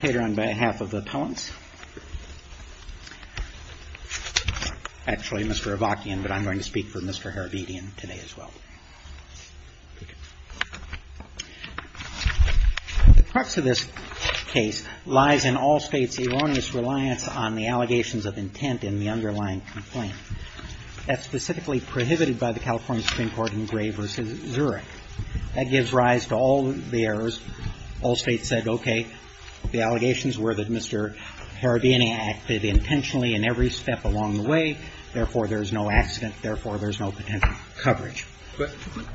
The crux of this case lies in Allstate's erroneous reliance on the allegations of intent in the underlying complaint. That's specifically prohibited by the California Supreme Court in Gray v. Zurich. That gives rise to all the errors. Allstate said, okay, the allegations were that Mr. IRIRABEDIAN acted intentionally in every step along the way. Therefore, there's no accident. Therefore, there's no potential coverage. But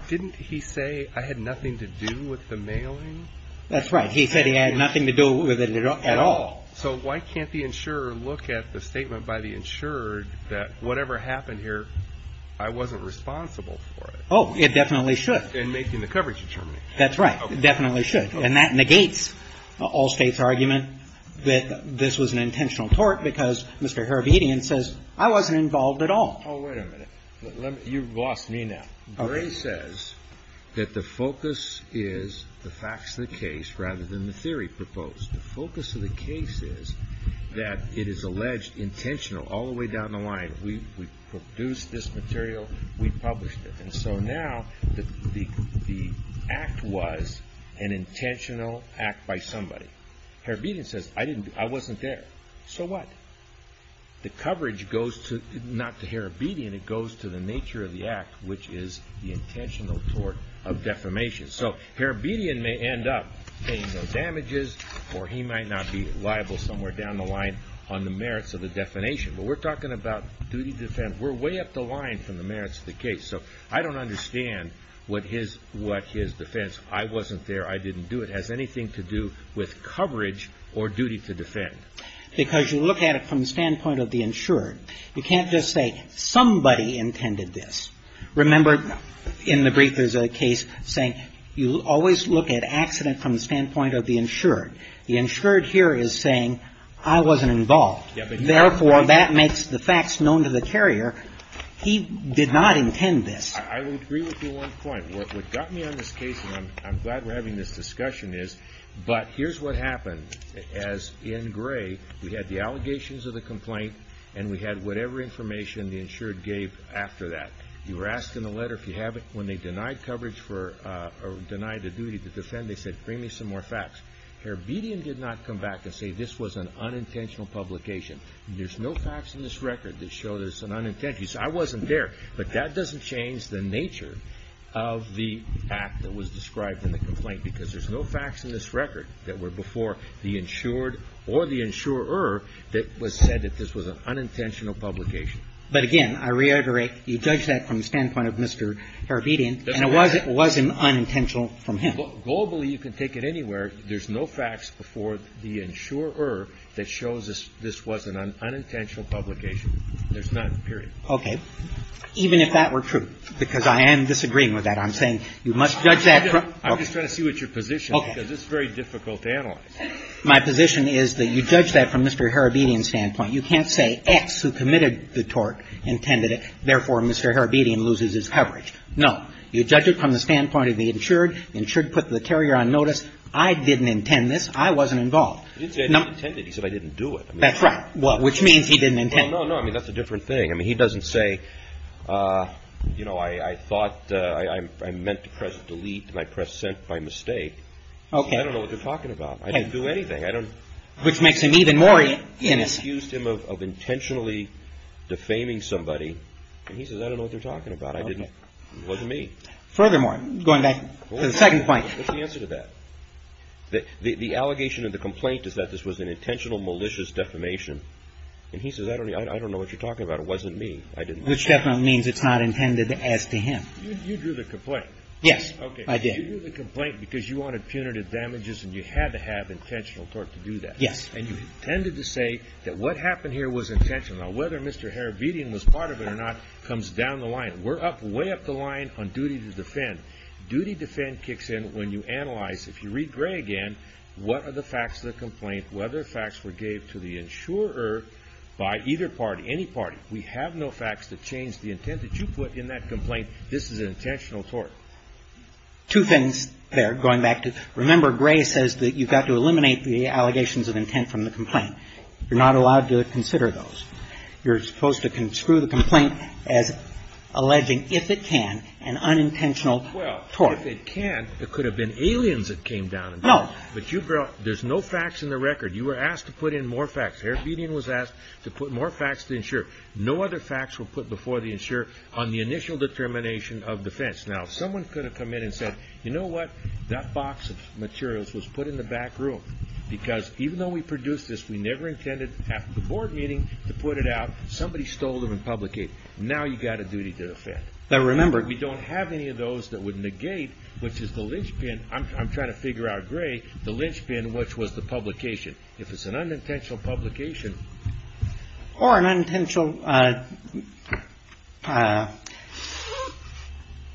didn't he say, I had nothing to do with the mailing? That's right. He said he had nothing to do with it at all. So why can't the insurer look at the statement by the insurer that whatever happened here, I wasn't responsible for it? Oh, it definitely should. And making the coverage determination. That's right. It definitely should. And that negates Allstate's argument that this was an intentional tort because Mr. IRIRABEDIAN says, I wasn't involved at all. Oh, wait a minute. You've lost me now. Gray says that the focus is the facts of the case rather than the theory proposed. The focus of the case is that it is alleged intentional all the way down the line. We produced this material. We published it. And so now the act was an intentional act by somebody. IRIRABEDIAN says, I wasn't there. So what? The coverage goes to, not to IRIRABEDIAN, it goes to the nature of the act, which is the intentional tort of defamation. So IRIRABEDIAN may end up paying no damages, or he might not be liable somewhere down the line on the merits of the defamation. But we're talking about duty to defend. We're way up the line from the merits of the case. So I don't understand what his defense, I wasn't there, I didn't do it, has anything to do with coverage or duty to defend. Because you look at it from the standpoint of the insured. You can't just say somebody intended this. Remember in the brief there's a case saying you always look at accident from the standpoint of the insured. The insured here is saying I wasn't involved. Therefore, that makes the facts known to the carrier. He did not intend this. I would agree with you on one point. What got me on this case, and I'm glad we're having this discussion, is, but here's what happened. As in Gray, we had the allegations of the complaint, and we had whatever information the insured gave after that. You were asked in the letter if you have it. When they denied coverage for, or denied the duty to defend, they said, bring me some more facts. IRIRABEDIAN did not come back and say this was an unintentional publication. There's no facts in this record that show that it's an unintentional. He said, I wasn't there. But that doesn't change the nature of the act that was described in the complaint, because there's no facts in this record that were before the insured or the insurer that was said that this was an unintentional publication. But, again, I reiterate, you judge that from the standpoint of Mr. Irirabedian, and it wasn't unintentional from him. Globally, you can take it anywhere. There's no facts before the insurer that shows this was an unintentional publication. There's none, period. Okay. Even if that were true, because I am disagreeing with that. I'm saying you must judge that from. I'm just trying to see what your position is, because it's very difficult to analyze. My position is that you judge that from Mr. Irirabedian's standpoint. You can't say X, who committed the tort, intended it. Therefore, Mr. Irirabedian loses his coverage. No. You judge it from the standpoint of the insured. The insured put the carrier on notice. I didn't intend this. I wasn't involved. He didn't say I didn't intend it. He said I didn't do it. That's right. Which means he didn't intend it. Well, no, no. I mean, that's a different thing. I mean, he doesn't say, you know, I thought I meant to press delete, and I pressed sent by mistake. Okay. I don't know what you're talking about. I didn't do anything. I don't. Which makes him even more innocent. He accused him of intentionally defaming somebody. And he says, I don't know what you're talking about. I didn't. It wasn't me. Furthermore, going back to the second point. What's the answer to that? The allegation of the complaint is that this was an intentional malicious defamation. And he says, I don't know what you're talking about. It wasn't me. I didn't do it. Which definitely means it's not intended as to him. You drew the complaint. Yes, I did. Okay. You drew the complaint because you wanted punitive damages, and you had to have intentional court to do that. Yes. And you intended to say that what happened here was intentional. Now, whether Mr. Harabedian was part of it or not comes down the line. We're way up the line on duty to defend. Duty to defend kicks in when you analyze, if you read Gray again, what are the facts of the complaint, whether the facts were gave to the insurer by either party, any party. We have no facts that change the intent that you put in that complaint. This is an intentional tort. Two things there, going back to, remember, Gray says that you've got to eliminate the allegations of intent from the complaint. You're not allowed to consider those. You're supposed to screw the complaint as alleging, if it can, an unintentional tort. Well, if it can, it could have been aliens that came down and did it. No. But you brought, there's no facts in the record. You were asked to put in more facts. Harabedian was asked to put more facts to the insurer. No other facts were put before the insurer on the initial determination of defense. Now, someone could have come in and said, you know what, that box of materials was put in the back room, because even though we produced this, we never intended, after the board meeting, to put it out. Somebody stole them and publicated. Now you've got a duty to defend. Now, remember, we don't have any of those that would negate, which is the linchpin. I'm trying to figure out, Gray, the linchpin, which was the publication. If it's an unintentional publication. Or an unintentional,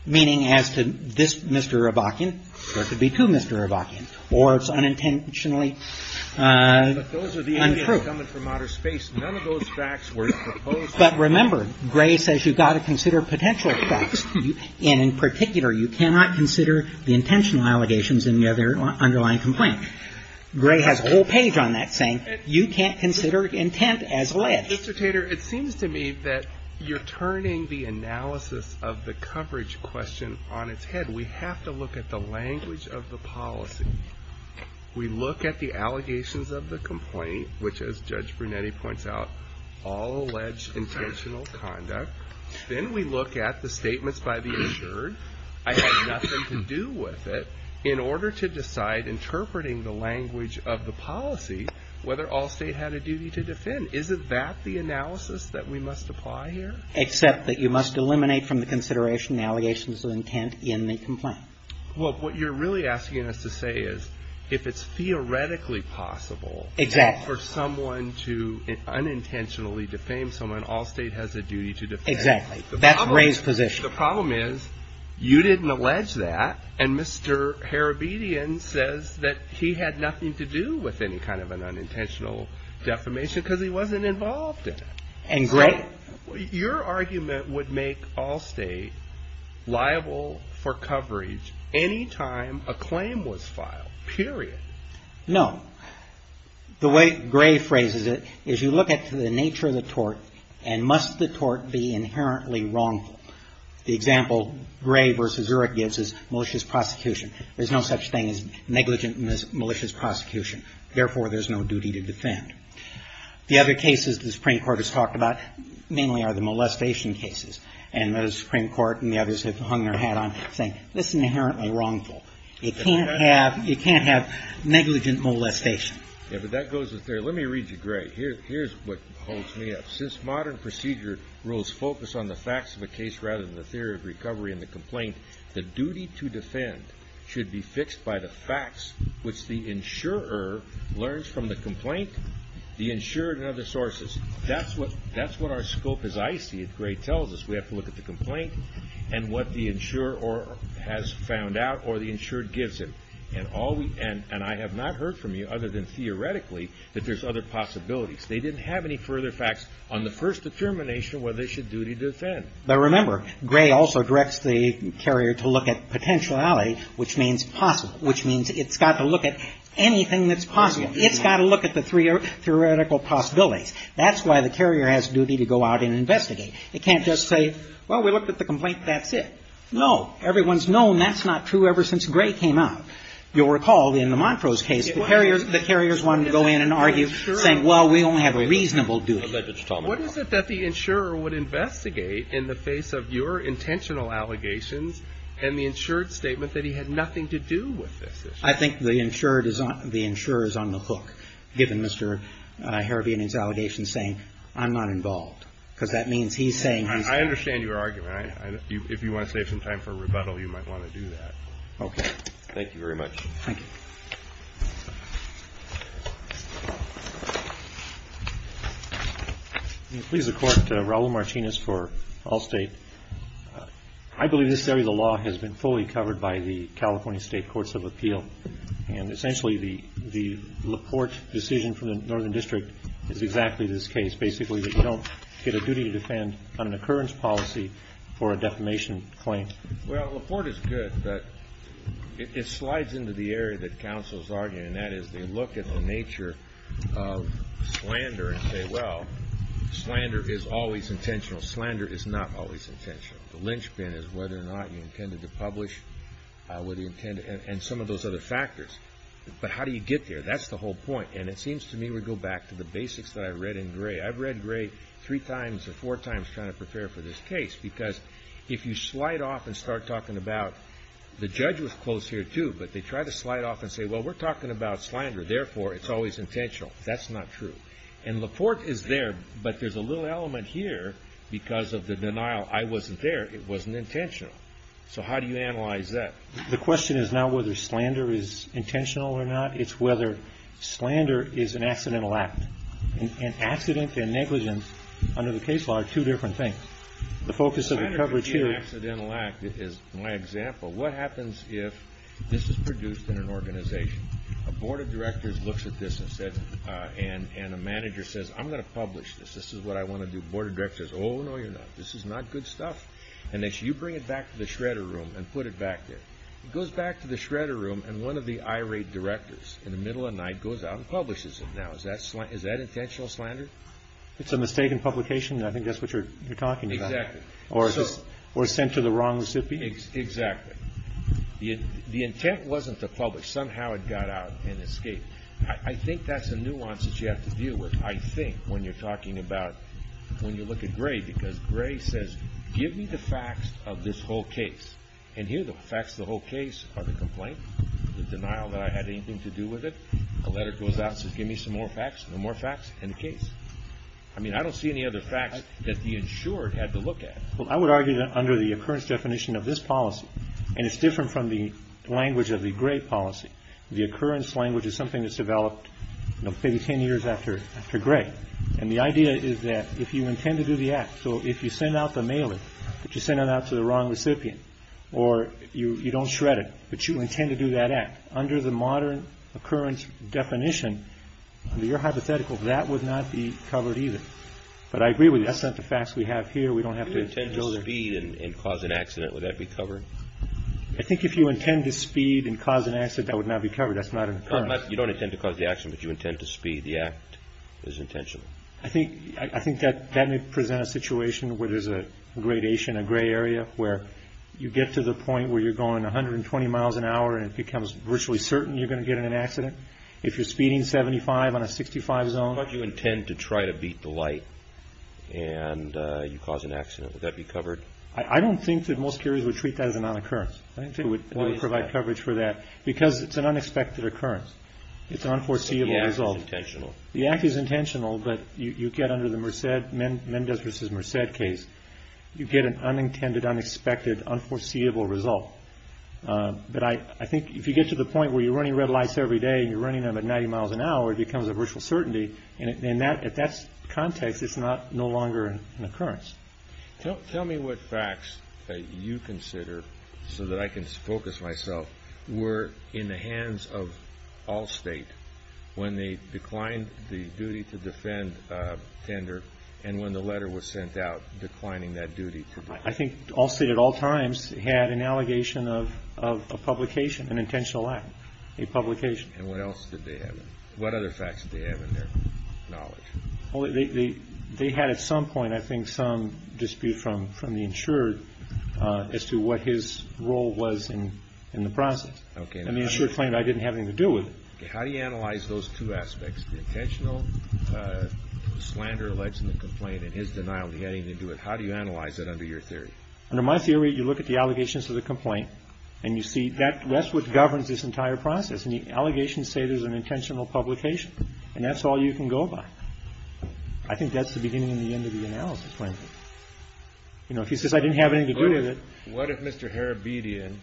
meaning as to this Mr. Hrabachian, or it could be to Mr. Hrabachian, or it's unintentionally untrue. But those are the aliens coming from outer space. None of those facts were proposed. But remember, Gray says you've got to consider potential facts. And in particular, you cannot consider the intentional allegations in the underlying complaint. Gray has a whole page on that saying, you can't consider intent as alleged. Mr. Tater, it seems to me that you're turning the analysis of the coverage question on its head. We have to look at the language of the policy. We look at the allegations of the complaint, which, as Judge Brunetti points out, all allege intentional conduct. I have nothing to do with it. In order to decide, interpreting the language of the policy, whether Allstate had a duty to defend. Isn't that the analysis that we must apply here? Except that you must eliminate from the consideration the allegations of intent in the complaint. Well, what you're really asking us to say is, if it's theoretically possible. Exactly. For someone to unintentionally defame someone, Allstate has a duty to defend. That's Gray's position. The problem is, you didn't allege that. And Mr. Harabedian says that he had nothing to do with any kind of an unintentional defamation because he wasn't involved in it. And Gray. Your argument would make Allstate liable for coverage any time a claim was filed, period. No. The way Gray phrases it is you look at the nature of the tort and must the tort be inherently wrongful. The example Gray v. Zurek gives is malicious prosecution. There's no such thing as negligent malicious prosecution. Therefore, there's no duty to defend. The other cases the Supreme Court has talked about mainly are the molestation cases. And the Supreme Court and the others have hung their hat on saying, this is inherently wrongful. It can't have negligent molestation. Yeah, but that goes there. Let me read you, Gray. Here's what holds me up. Since modern procedure rules focus on the facts of a case rather than the theory of recovery and the complaint, the duty to defend should be fixed by the facts which the insurer learns from the complaint, the insured and other sources. That's what our scope is, I see, as Gray tells us. We have to look at the complaint and what the insurer has found out or the insured gives him. And I have not heard from you other than theoretically that there's other possibilities. They didn't have any further facts on the first determination whether they should duty defend. But remember, Gray also directs the carrier to look at potentiality, which means possible, which means it's got to look at anything that's possible. It's got to look at the three theoretical possibilities. That's why the carrier has duty to go out and investigate. It can't just say, well, we looked at the complaint. That's it. No. Everyone's known that's not true ever since Gray came out. You'll recall in the Montrose case, the carriers wanted to go in and argue, saying, well, we only have a reasonable duty. What is it that the insurer would investigate in the face of your intentional allegations and the insured statement that he had nothing to do with this issue? I think the insured is on the hook, given Mr. Harabian's allegations saying I'm not involved, because that means he's saying he's not. I understand your argument. If you want to save some time for rebuttal, you might want to do that. Okay. Thank you very much. Thank you. Please, the Court. Raul Martinez for Allstate. I believe this area of the law has been fully covered by the California State Courts of Appeal. And essentially, the Laporte decision from the Northern District is exactly this case. It's basically that you don't get a duty to defend on an occurrence policy for a defamation claim. Well, Laporte is good, but it slides into the area that counsel is arguing, and that is they look at the nature of slander and say, well, slander is always intentional. Slander is not always intentional. The linchpin is whether or not you intended to publish and some of those other factors. But how do you get there? That's the whole point. And it seems to me we go back to the basics that I read in Gray. I've read Gray three times or four times trying to prepare for this case, because if you slide off and start talking about the judge was close here, too, but they try to slide off and say, well, we're talking about slander. Therefore, it's always intentional. That's not true. And Laporte is there, but there's a little element here because of the denial. I wasn't there. It wasn't intentional. So how do you analyze that? The question is not whether slander is intentional or not. It's whether slander is an accidental act. And accident and negligence under the case law are two different things. The focus of the coverage here is my example. What happens if this is produced in an organization? A board of directors looks at this and a manager says, I'm going to publish this. This is what I want to do. The board of directors says, oh, no, you're not. This is not good stuff. And they say, you bring it back to the shredder room and put it back there. It goes back to the shredder room and one of the irate directors in the middle of the night goes out and publishes it. Now, is that intentional slander? It's a mistake in publication. I think that's what you're talking about. Exactly. Or sent to the wrong recipient. Exactly. The intent wasn't to publish. Somehow it got out and escaped. I think that's a nuance that you have to deal with, I think, when you're talking about when you look at Gray. Because Gray says, give me the facts of this whole case. And here the facts of the whole case are the complaint, the denial that I had anything to do with it, a letter goes out and says, give me some more facts. No more facts in the case. I mean, I don't see any other facts that the insured had to look at. Well, I would argue that under the occurrence definition of this policy, and it's different from the language of the Gray policy, the occurrence language is something that's developed maybe ten years after Gray. And the idea is that if you intend to do the act, so if you send out the mailing, but you send it out to the wrong recipient, or you don't shred it, but you intend to do that act, under the modern occurrence definition, under your hypothetical, that would not be covered either. But I agree with you. That's not the facts we have here. We don't have to go there. If you intend to speed and cause an accident, would that be covered? I think if you intend to speed and cause an accident, that would not be covered. That's not an occurrence. You don't intend to cause the accident, but you intend to speed the act. There's intention. I think that may present a situation where there's a gradation, a gray area, where you get to the point where you're going 120 miles an hour, and it becomes virtually certain you're going to get in an accident. If you're speeding 75 on a 65 zone. But you intend to try to beat the light, and you cause an accident. Would that be covered? I don't think that most carriers would treat that as a non-occurrence. They would provide coverage for that. Because it's an unexpected occurrence. It's an unforeseeable result. The act is intentional. The act is intentional, but you get under the Mendez v. Merced case, you get an unintended, unexpected, unforeseeable result. But I think if you get to the point where you're running red lights every day, and you're running them at 90 miles an hour, it becomes a virtual certainty. In that context, it's no longer an occurrence. Tell me what facts you consider, so that I can focus myself, were in the hands of Allstate when they declined the duty to defend tender and when the letter was sent out declining that duty. I think Allstate at all times had an allegation of a publication, an intentional act. A publication. And what else did they have? What other facts did they have in their knowledge? They had at some point, I think, some dispute from the insured as to what his role was in the process. And the insured claimed I didn't have anything to do with it. How do you analyze those two aspects? The intentional slander alleges in the complaint and his denial he had anything to do with it. How do you analyze that under your theory? Under my theory, you look at the allegations of the complaint, and you see that's what governs this entire process. And the allegations say there's an intentional publication. And that's all you can go by. I think that's the beginning and the end of the analysis, frankly. You know, if he says I didn't have anything to do with it. What if Mr. Harabedian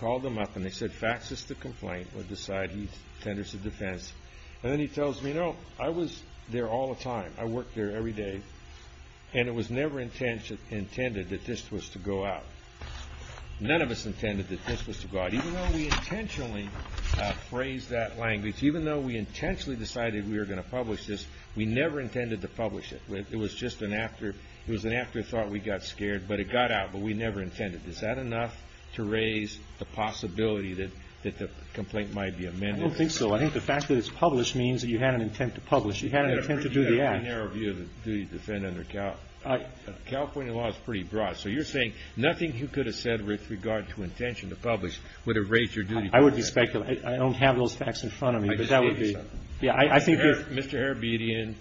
called them up and they said facts is the complaint would decide he tenders the defense. And then he tells me, you know, I was there all the time. I worked there every day. And it was never intended that this was to go out. None of us intended that this was to go out. Even though we intentionally phrased that language, even though we intentionally decided we were going to publish this, we never intended to publish it. It was just an afterthought. We got scared. But it got out. But we never intended it. Is that enough to raise the possibility that the complaint might be amended? I don't think so. I think the fact that it's published means that you had an intent to publish. You had an intent to do the act. You have a very narrow view of the duty to defend under California law. It's pretty broad. So you're saying nothing he could have said with regard to intention to publish would have raised your duty to defend. I would speculate. I don't have those facts in front of me, but that would be. I just gave you something. Mr. Harabedian,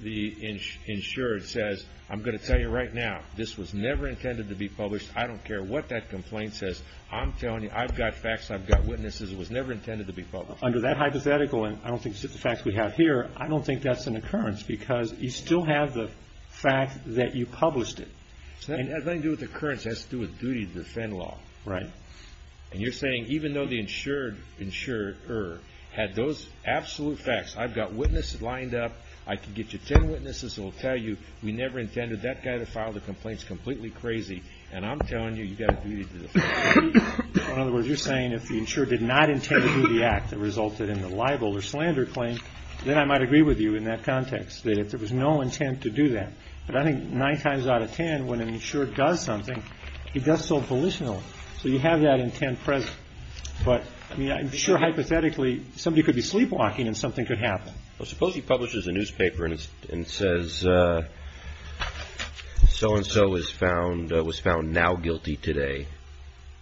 the insured, says I'm going to tell you right now. This was never intended to be published. I don't care what that complaint says. I'm telling you I've got facts. I've got witnesses. It was never intended to be published. Under that hypothetical, and I don't think it's just the facts we have here, I don't think that's an occurrence because you still have the fact that you published it. It has nothing to do with occurrence. It has to do with duty to defend law. Right. And you're saying even though the insured had those absolute facts, I've got witnesses lined up, I can get you 10 witnesses that will tell you we never intended that guy to file the complaints, completely crazy, and I'm telling you you've got a duty to defend law. In other words, you're saying if the insured did not intend to do the act that resulted in the libel or slander claim, then I might agree with you in that context, that if there was no intent to do that. But I think nine times out of 10, when an insured does something, he does so volitionally. So you have that intent present. But, I mean, I'm sure hypothetically somebody could be sleepwalking and something could happen. Well, suppose he publishes a newspaper and says so-and-so was found now guilty today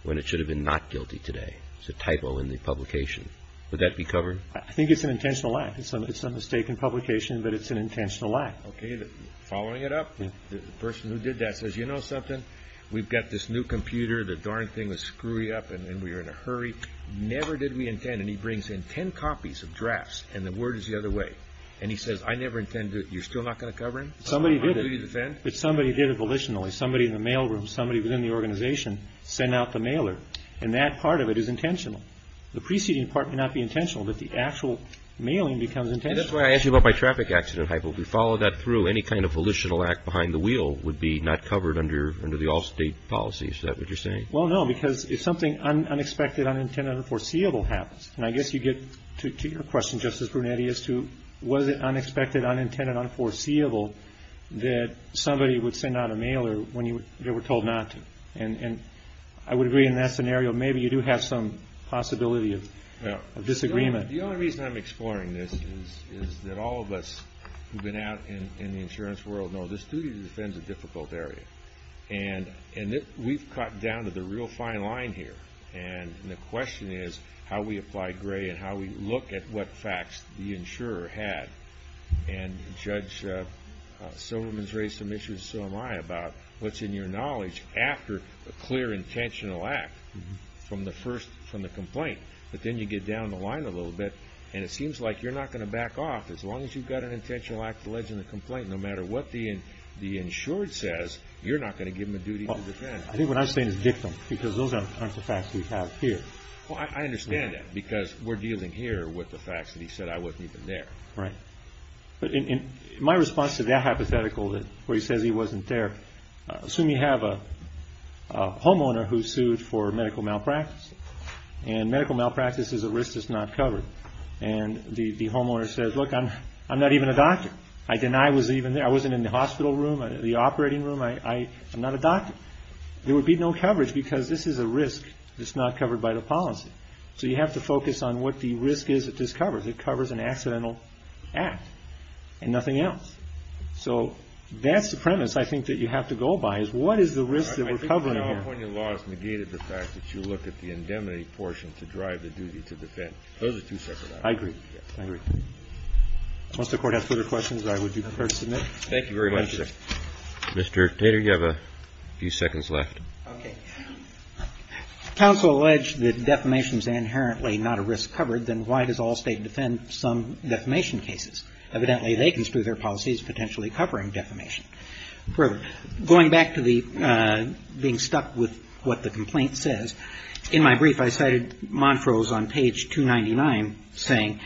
when it should have been not guilty today. It's a typo in the publication. Would that be covered? I think it's an intentional act. It's a mistake in publication, but it's an intentional act. Okay. Following it up, the person who did that says, you know something? We've got this new computer. The darn thing was screwing up and we were in a hurry. Never did we intend. And he brings in ten copies of drafts and the word is the other way. And he says, I never intended. You're still not going to cover him? Somebody did it. Somebody did it volitionally. Somebody in the mail room, somebody within the organization sent out the mailer. And that part of it is intentional. The preceding part may not be intentional, but the actual mailing becomes intentional. And that's why I asked you about my traffic accident hypo. If we follow that through, any kind of volitional act behind the wheel would be not covered under the all-state policy. Is that what you're saying? Well, no, because if something unexpected, unintended, unforeseeable happens, and I guess you get to your question, Justice Brunetti, as to was it unexpected, unintended, unforeseeable that somebody would send out a mailer when they were told not to. And I would agree in that scenario, maybe you do have some possibility of disagreement. The only reason I'm exploring this is that all of us who have been out in the insurance world know this duty to defend is a difficult area. And we've cut down to the real fine line here. And the question is how we apply gray and how we look at what facts the insurer had. And Judge Silverman's raised some issues, so am I, about what's in your knowledge after a clear intentional act from the complaint. But then you get down the line a little bit, and it seems like you're not going to back off as long as you've got an intentional act alleged in the complaint. No matter what the insured says, you're not going to give them a duty to defend. I think what I'm saying is victim, because those aren't the facts we have here. Well, I understand that, because we're dealing here with the facts that he said I wasn't even there. Right. But in my response to that hypothetical where he says he wasn't there, assume you have a homeowner who sued for medical malpractice, and medical malpractice is a risk that's not covered. And the homeowner says, look, I'm not even a doctor. I deny I was even there. I wasn't in the hospital room, the operating room. I'm not a doctor. There would be no coverage, because this is a risk that's not covered by the policy. So you have to focus on what the risk is that this covers. It covers an accidental act and nothing else. So that's the premise, I think, that you have to go by, is what is the risk that we're covering here. I think the California law has negated the fact that you look at the indemnity portion to drive the duty to defend. Those are two separate items. I agree. Once the Court has further questions, I would be prepared to submit. Thank you very much, sir. Mr. Tater, you have a few seconds left. Okay. If counsel alleged that defamation is inherently not a risk covered, then why does Allstate defend some defamation cases? Evidently, they can spew their policies potentially covering defamation. Further, going back to the being stuck with what the complaint says, in my brief I cited Montrose on page 299 saying,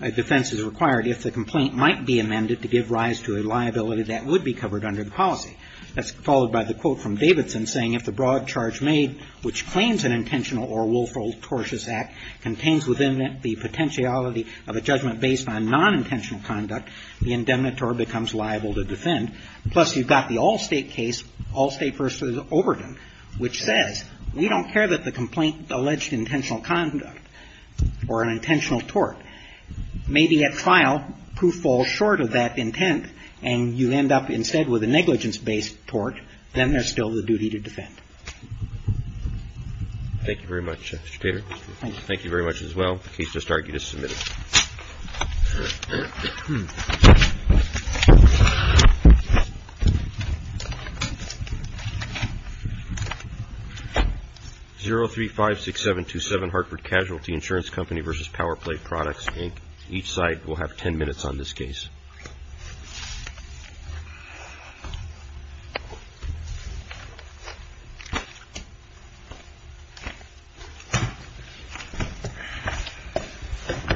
defense is required if the complaint might be amended to give rise to a liability that would be covered under the policy. That's followed by the quote from Davidson saying, if the broad charge made which claims an intentional or willful tortious act contains within it the potentiality of a judgment based on nonintentional conduct, the indemnitor becomes liable to defend. Plus, you've got the Allstate case, Allstate v. Overton, which says, we don't care that the complaint alleged intentional conduct or an intentional tort. Maybe at trial, proof falls short of that intent, and you end up instead with a negligence-based tort, then there's still the duty to defend. Thank you very much, Mr. Tater. Thank you. The case just argued is submitted. 0356727 Hartford Casualty Insurance Company v. Powerplay Products, Inc. Each side will have ten minutes on this case.